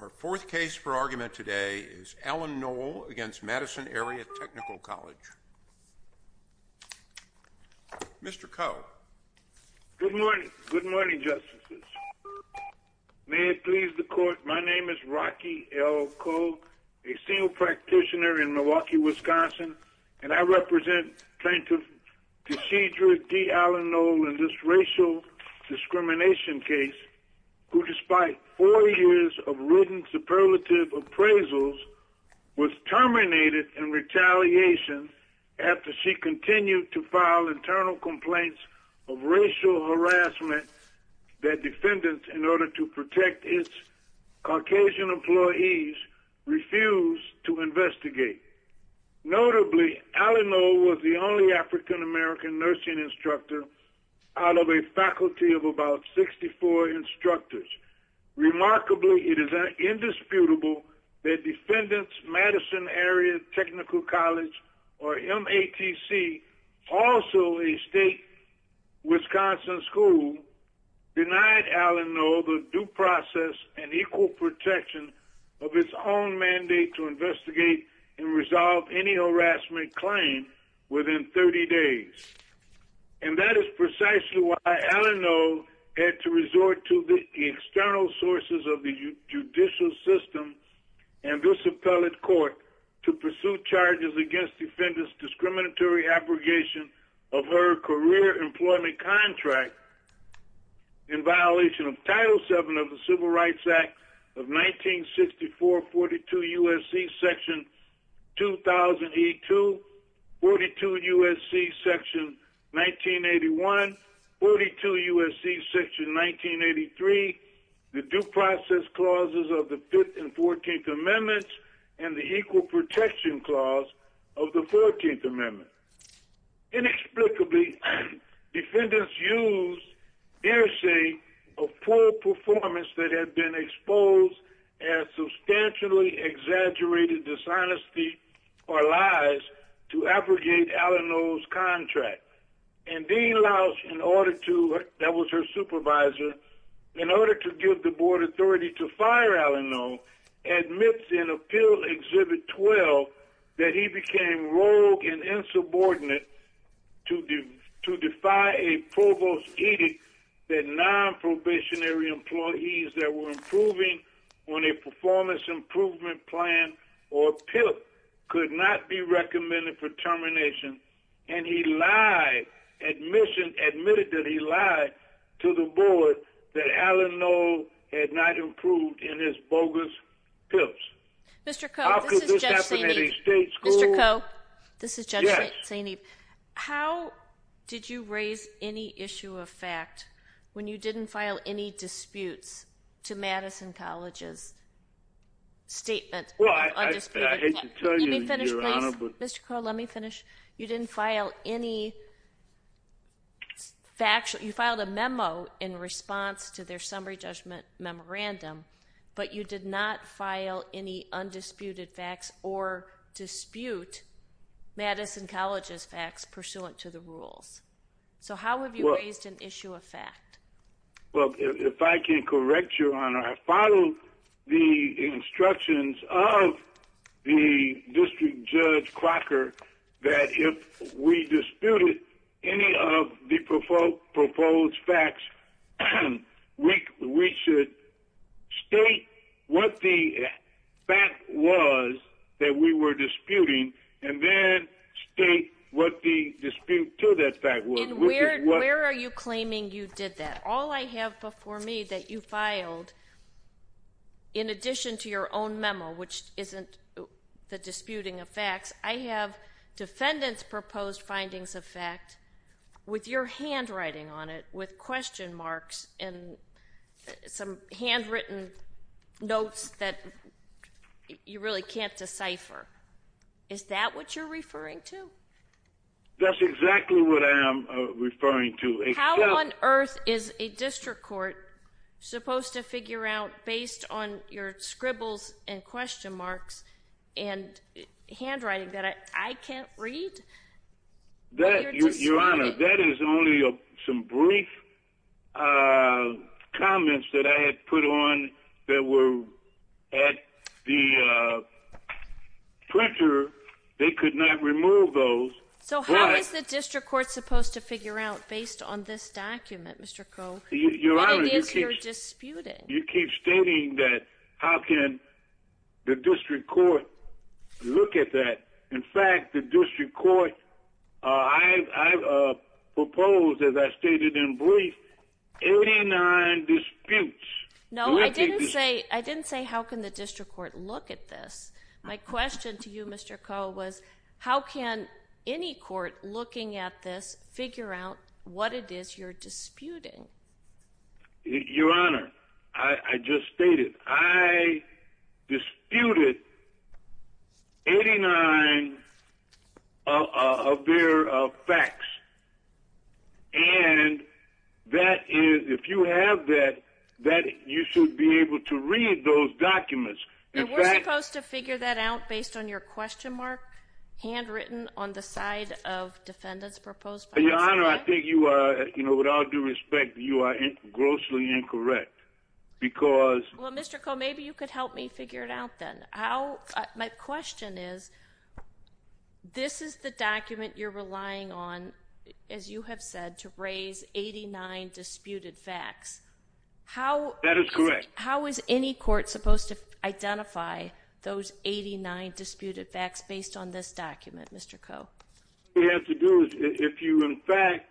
Our fourth case for argument today is Allen-Noll v. Madison Area Technical College. Mr. Coe. Good morning. Good morning, Justices. May it please the Court, my name is Rocky L. Coe, a senior practitioner in Milwaukee, Wisconsin, and I represent Plaintiff Taystheedra D. Allen-Noll in this racial discrimination case who, despite four years of written superlative appraisals, was terminated in retaliation after she continued to file internal complaints of racial harassment that defendants, in order to protect its Caucasian employees, refused to investigate. Notably, Allen-Noll was the only African-American nursing instructor out of a faculty of about 64 instructors. Remarkably, it is indisputable that defendants, Madison Area Technical College, or MATC, also a state Wisconsin school, denied Allen-Noll the due process and equal protection of its own mandate to investigate and resolve any harassment claim within 30 days. And that is precisely why Allen-Noll had to resort to the external sources of the judicial system and this appellate court to pursue charges against defendants' discriminatory abrogation of her career employment contract in violation of Title VII of the Civil Rights Act of 1964, 42 U.S.C. Section 2000E2, 42 U.S.C. Section 1981, 42 U.S.C. Section 1983, the due process clauses of the Fifth and Fourteenth Amendments, and the equal protection clause of the Fourteenth Amendment. Inexplicably, defendants used hearsay of poor performance that had been exposed as substantially exaggerated dishonesty or lies to abrogate Allen-Noll's contract. And Dean Lausch, that was her supervisor, in order to give the board authority to fire Allen-Noll, admits in Appeal Exhibit 12 that he became rogue and insubordinate to defy a provost's edict that non-probationary employees that were improving on a performance improvement plan or PIP could not be recommended for termination. And he lied, admitted that he lied to the board that Allen-Noll had not improved in his bogus PIPs. How could this happen at a state school? Yes. How did you raise any issue of fact when you didn't file any disputes to Madison College's statement? Well, I hate to tell you, Your Honor. Mr. Crow, let me finish. You didn't file any factual—you filed a memo in response to their summary judgment memorandum, but you did not file any undisputed facts or dispute Madison College's facts pursuant to the rules. So how have you raised an issue of fact? Well, if I can correct you, Your Honor, I followed the instructions of the District Judge Crocker that if we disputed any of the proposed facts, we should state what the fact was that we were disputing and then state what the dispute to that fact was. And where are you claiming you did that? All I have before me that you filed, in addition to your own memo, which isn't the disputing of facts, I have defendants' proposed findings of fact with your handwriting on it with question marks and some handwritten notes that you really can't decipher. Is that what you're referring to? That's exactly what I am referring to. How on earth is a district court supposed to figure out based on your scribbles and question marks and handwriting that I can't read? Your Honor, that is only some brief comments that I had put on that were at the printer. They could not remove those. So how is the district court supposed to figure out based on this document, Mr. Crow? What it is you're disputing. You keep stating that how can the district court look at that. In fact, the district court, I proposed, as I stated in brief, 89 disputes. No, I didn't say how can the district court look at this. My question to you, Mr. Crow, was how can any court looking at this figure out what it is you're disputing? Your Honor, I just stated I disputed 89 of their facts. And if you have that, you should be able to read those documents. And we're supposed to figure that out based on your question mark handwritten on the side of defendants proposed? Your Honor, I think you are, with all due respect, you are grossly incorrect because Well, Mr. Crow, maybe you could help me figure it out then. My question is, this is the document you're relying on, as you have said, to raise 89 disputed facts. That is correct. How is any court supposed to identify those 89 disputed facts based on this document, Mr. Crow? What you have to do is if you, in fact,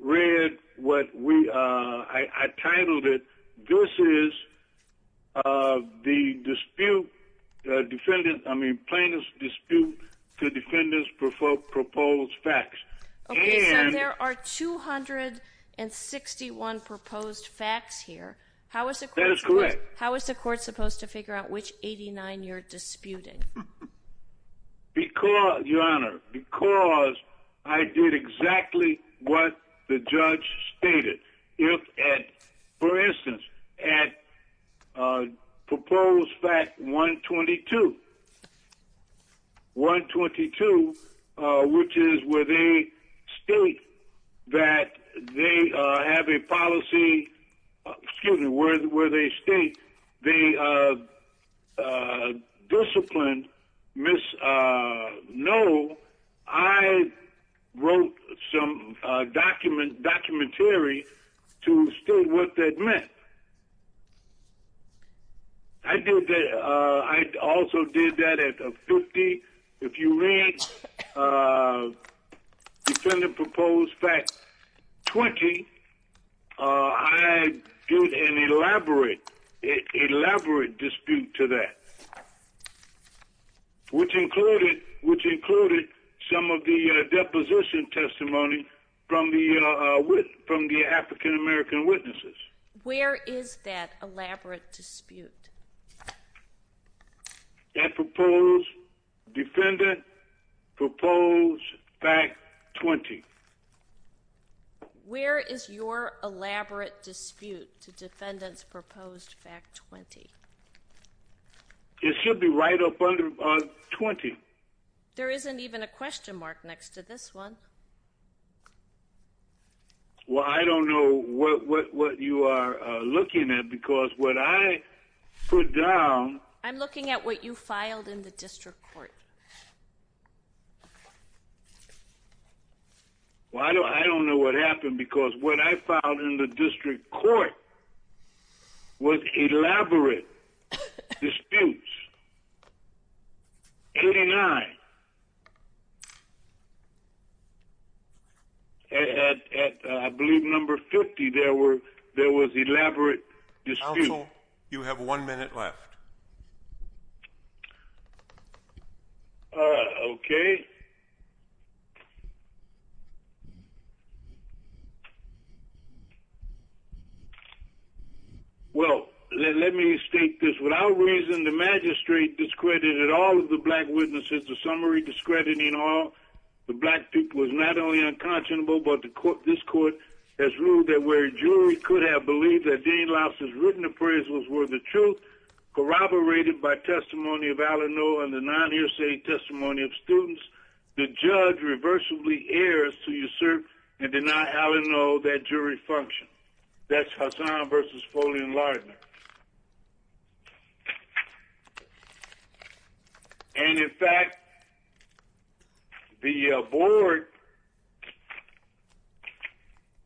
read what I titled it, this is the plaintiff's dispute to defendants' proposed facts. Okay, so there are 261 proposed facts here. That is correct. How is the court supposed to figure out which 89 you're disputing? Your Honor, because I did exactly what the judge stated. For instance, at proposed fact 122, which is where they state that they have a policy, excuse me, where they state they disciplined Ms. Noel, I wrote some documentary to state what that meant. I also did that at 50. If you read defendant proposed fact 20, I did an elaborate dispute to that, which included some of the deposition testimony from the African-American witnesses. Where is that elaborate dispute? At defendant proposed fact 20. Where is your elaborate dispute to defendant's proposed fact 20? It should be right up under 20. There isn't even a question mark next to this one. Well, I don't know what you are looking at because what I put down... I'm looking at what you filed in the district court. Well, I don't know what happened because what I filed in the district court was elaborate disputes. 89. At, I believe, number 50, there was elaborate disputes. Counsel, you have one minute left. All right. Okay. Well, let me state this. Without reason, the magistrate discredited all of the black witnesses. The summary discrediting all the black people is not only unconscionable, but this court has ruled that where a jury could have believed that Dane Louse's written appraisals were the truth, corroborated by testimony of Alano and the non-hearsay testimony of students, the judge reversibly errs to usurp and deny Alano that jury function. That's Hassan versus Foley and Lardner. And, in fact, the board,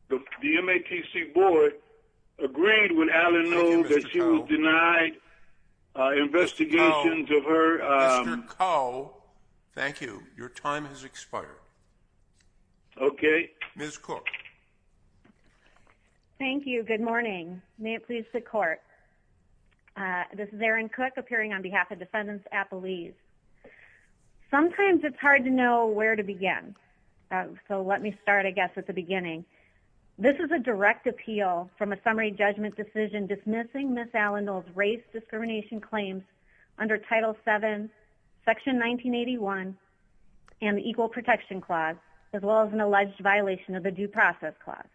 the MATC board, agreed with Alano that she was denied investigation to her... Mr. Cole, thank you. Your time has expired. Okay. Ms. Cook. Thank you. Good morning. May it please the court. This is Erin Cook, appearing on behalf of defendants at Belize. Sometimes it's hard to know where to begin, so let me start, I guess, at the beginning. This is a direct appeal from a summary judgment decision dismissing Ms. Allendale's race discrimination claims under Title VII, Section 1981, and the Equal Protection Clause, as well as an alleged violation of the Due Process Clause.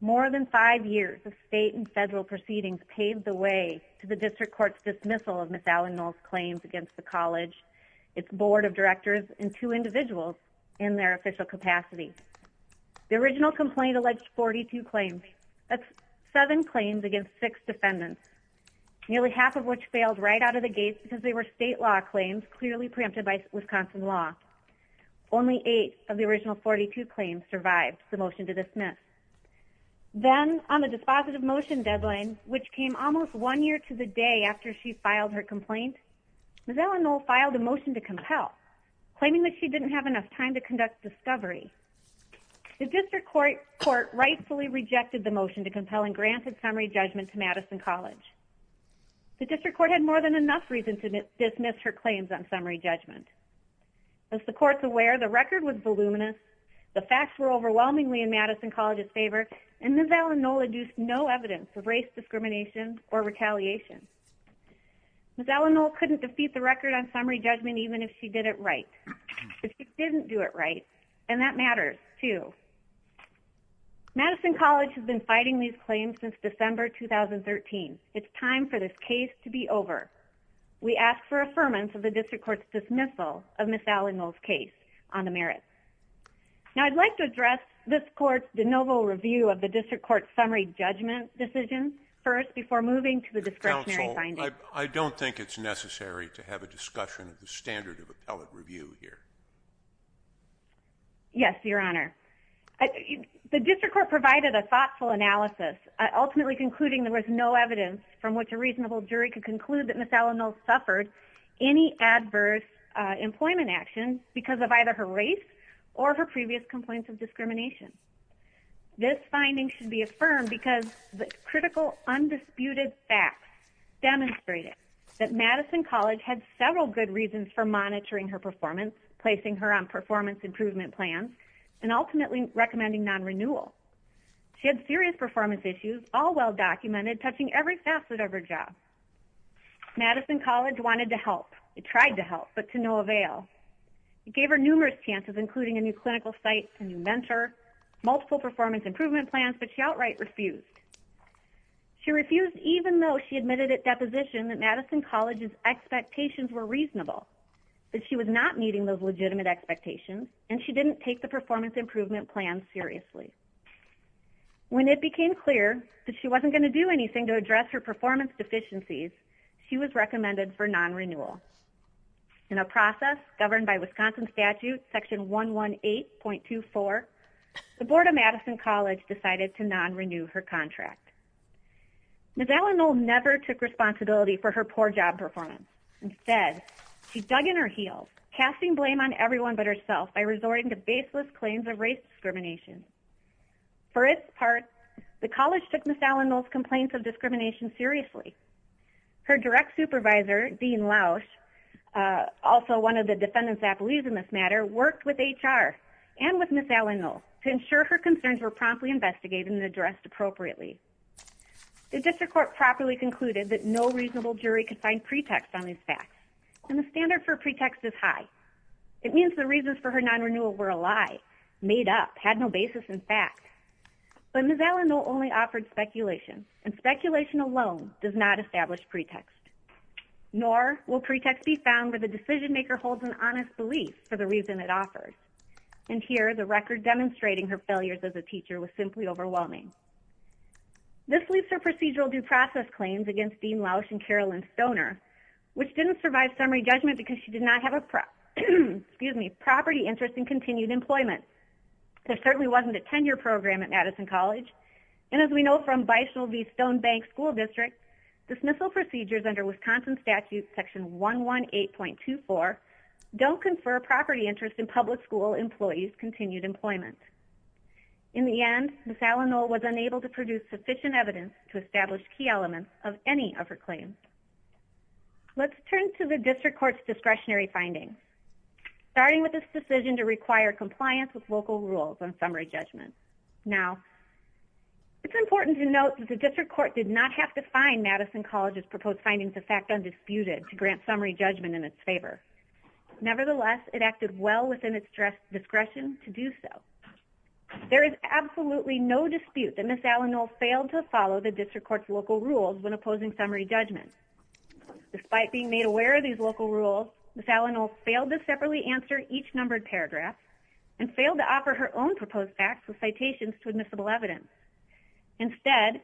More than five years of state and federal proceedings paved the way to the district court's dismissal of Ms. Allendale's claims against the college, its board of directors, and two individuals in their official capacity. The original complaint alleged 42 claims. That's seven claims against six defendants, nearly half of which failed right out of the gates because they were state law claims clearly preempted by Wisconsin law. Only eight of the original 42 claims survived the motion to dismiss. Then, on the dispositive motion deadline, which came almost one year to the day after she filed her complaint, Ms. Allendale filed a motion to compel, claiming that she didn't have enough time to conduct discovery. The district court rightfully rejected the motion to compel and granted summary judgment to Madison College. The district court had more than enough reason to dismiss her claims on summary judgment. As the court's aware, the record was voluminous, the facts were overwhelmingly in Madison College's favor, and Ms. Allendale induced no evidence of race discrimination or retaliation. Ms. Allendale couldn't defeat the record on summary judgment even if she did it right. But she didn't do it right, and that matters, too. Madison College has been fighting these claims since December 2013. It's time for this case to be over. We ask for affirmance of the district court's dismissal of Ms. Allendale's case on the merits. Now, I'd like to address this court's de novo review of the district court's summary judgment decision first before moving to the discretionary findings. Counsel, I don't think it's necessary to have a discussion of the standard of appellate review here. Yes, Your Honor. The district court provided a thoughtful analysis, ultimately concluding there was no evidence from which a reasonable jury could conclude that Ms. Allendale suffered any adverse employment actions because of either her race or her previous complaints of discrimination. This finding should be affirmed because the critical, undisputed facts demonstrated that Madison College had several good reasons for monitoring her performance, placing her on performance improvement plans, and ultimately recommending non-renewal. She had serious performance issues, all well documented, touching every facet of her job. Madison College wanted to help. It tried to help, but to no avail. It gave her numerous chances, including a new clinical site, a new mentor, multiple performance improvement plans, but she outright refused. She refused even though she admitted at deposition that Madison College's expectations were reasonable, that she was not meeting those legitimate expectations, and she didn't take the performance improvement plans seriously. When it became clear that she wasn't going to do anything to address her performance deficiencies, she was recommended for non-renewal. In a process governed by Wisconsin statute section 118.24, the Board of Madison College decided to non-renew her contract. Ms. Allendale never took responsibility for her poor job performance. Instead, she dug in her heels, casting blame on everyone but herself by resorting to baseless claims of race discrimination. For its part, the college took Ms. Allendale's complaints of discrimination seriously. Her direct supervisor, Dean Lausch, also one of the defendants that believes in this matter, worked with HR and with Ms. Allendale to ensure her concerns were promptly investigated and addressed appropriately. The district court properly concluded that no reasonable jury could find pretext on these facts, and the standard for pretext is high. It means the reasons for her non-renewal were a lie, made up, had no basis in fact. But Ms. Allendale only offered speculation, and speculation alone does not establish pretext. Nor will pretext be found where the decision maker holds an honest belief for the reason it offers. And here, the record demonstrating her failures as a teacher was simply overwhelming. This leaves her procedural due process claims against Dean Lausch and Carolyn Stoner, which didn't survive summary judgment because she did not have a property interest in continued employment. There certainly wasn't a tenure program at Madison College. And as we know from Bishol v. Stonebank School District, dismissal procedures under Wisconsin Statute Section 118.24 don't confer property interest in public school employees' continued employment. In the end, Ms. Allendale was unable to produce sufficient evidence to establish key elements of any of her claims. Let's turn to the district court's discretionary findings. Starting with this decision to require compliance with local rules on summary judgment. Now, it's important to note that the district court did not have to find Madison College's proposed findings of fact undisputed to grant summary judgment in its favor. Nevertheless, it acted well within its discretion to do so. There is absolutely no dispute that Ms. Allendale failed to follow the district court's local rules when opposing summary judgment. Despite being made aware of these local rules, Ms. Allendale failed to separately answer each numbered paragraph and failed to offer her own proposed facts with citations to admissible evidence. Instead,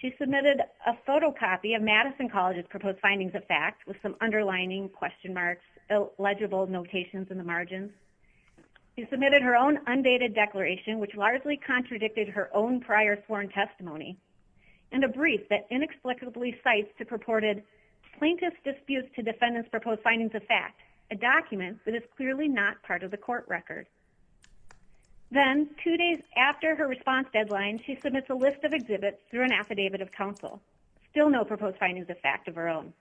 she submitted a photocopy of Madison College's proposed findings of fact with some underlining, question marks, illegible notations in the margins. She submitted her own undated declaration, which largely contradicted her own prior sworn testimony, and a brief that inexplicably cites the purported plaintiff's dispute to defendant's proposed findings of fact, a document that is clearly not part of the court record. Then, two days after her response deadline, she submits a list of exhibits through an affidavit of counsel, still no proposed findings of fact of her own.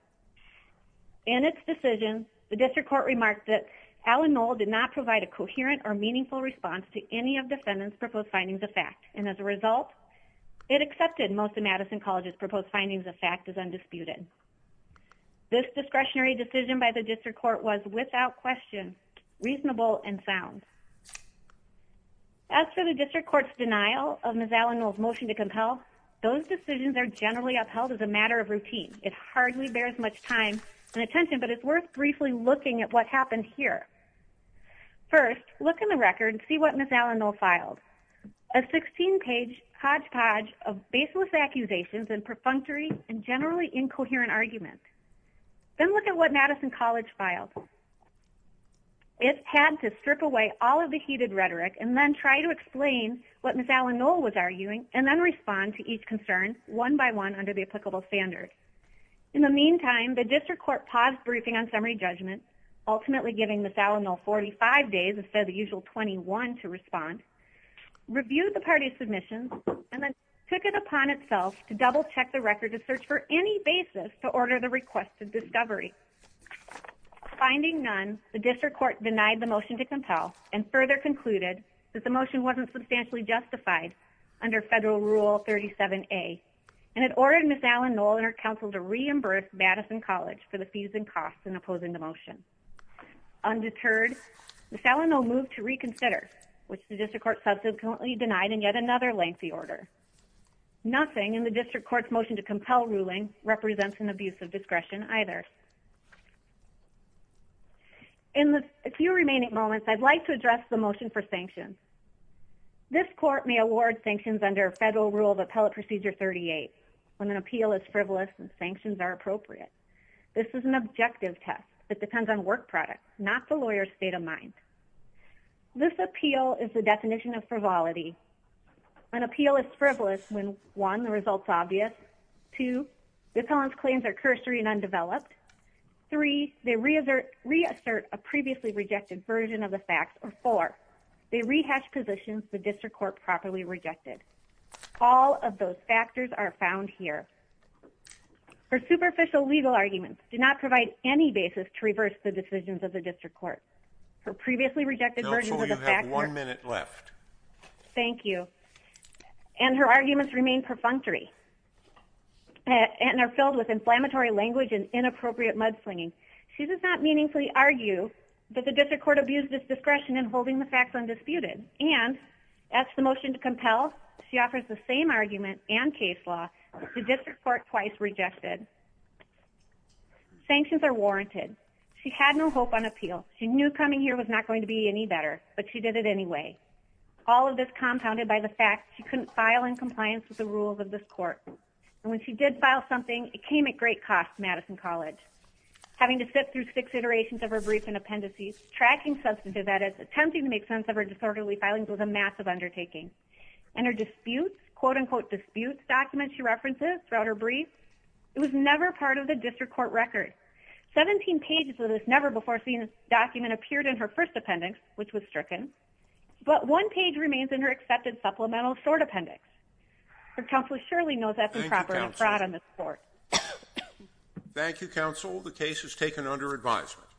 In its decision, the district court remarked that Allendale did not provide a coherent or meaningful response to any of defendant's proposed findings of fact, and as a result, it accepted most of Madison College's proposed findings of fact as undisputed. This discretionary decision by the district court was, without question, reasonable and sound. As for the district court's denial of Ms. Allendale's motion to compel, those decisions are generally upheld as a matter of routine. It hardly bears much time and attention, but it's worth briefly looking at what happened here. First, look in the record and see what Ms. Allendale filed, a 16-page hodgepodge of baseless accusations and perfunctory and generally incoherent arguments. Then look at what Madison College filed. It had to strip away all of the heated rhetoric and then try to explain what Ms. Allendale was arguing and then respond to each concern, one by one, under the applicable standards. In the meantime, the district court paused briefing on summary judgment, ultimately giving Ms. Allendale 45 days instead of the usual 21 to respond, reviewed the party's submissions, and then took it upon itself to double-check the record to search for any basis to order the requested discovery. Finding none, the district court denied the motion to compel and further concluded that the motion wasn't substantially justified under Federal Rule 37A and had ordered Ms. Allendale and her counsel to reimburse Madison College for the fees and costs in opposing the motion. Undeterred, Ms. Allendale moved to reconsider, which the district court subsequently denied in yet another lengthy order. Nothing in the district court's motion to compel ruling represents an abuse of discretion either. In the few remaining moments, I'd like to address the motion for sanctions. This court may award sanctions under Federal Rule of Appellate Procedure 38 when an appeal is frivolous and sanctions are appropriate. This is an objective test that depends on work product, not the lawyer's state of mind. This appeal is the definition of frivolity. An appeal is frivolous when 1. the result is obvious, 2. the felon's claims are cursory and undeveloped, 3. they reassert a previously rejected version of the facts, or 4. they rehash positions the district court properly rejected. All of those factors are found here. Her superficial legal arguments do not provide any basis to reverse the decisions of the district court. Her previously rejected versions of the facts... She offers the same argument and case law the district court twice rejected. Sanctions are warranted. She had no hope on appeal. She knew coming here was not going to be any better, but she did it anyway. All of this compounded by the fact she couldn't file in compliance with the rules of this court. And when she did file something, it came at great cost to Madison College. Having to sit through six iterations of her brief and appendices, tracking substantive edits, attempting to make sense of her disorderly filings was a massive undertaking. And her disputes, quote-unquote disputes, documents she references throughout her briefs, it was never part of the district court record. 17 pages of this never-before-seen document appeared in her first appendix, which was stricken, but one page remains in her accepted supplemental short appendix. Your counsel surely knows that's improper and fraud on this court. Thank you, counsel. The case is taken under advisement.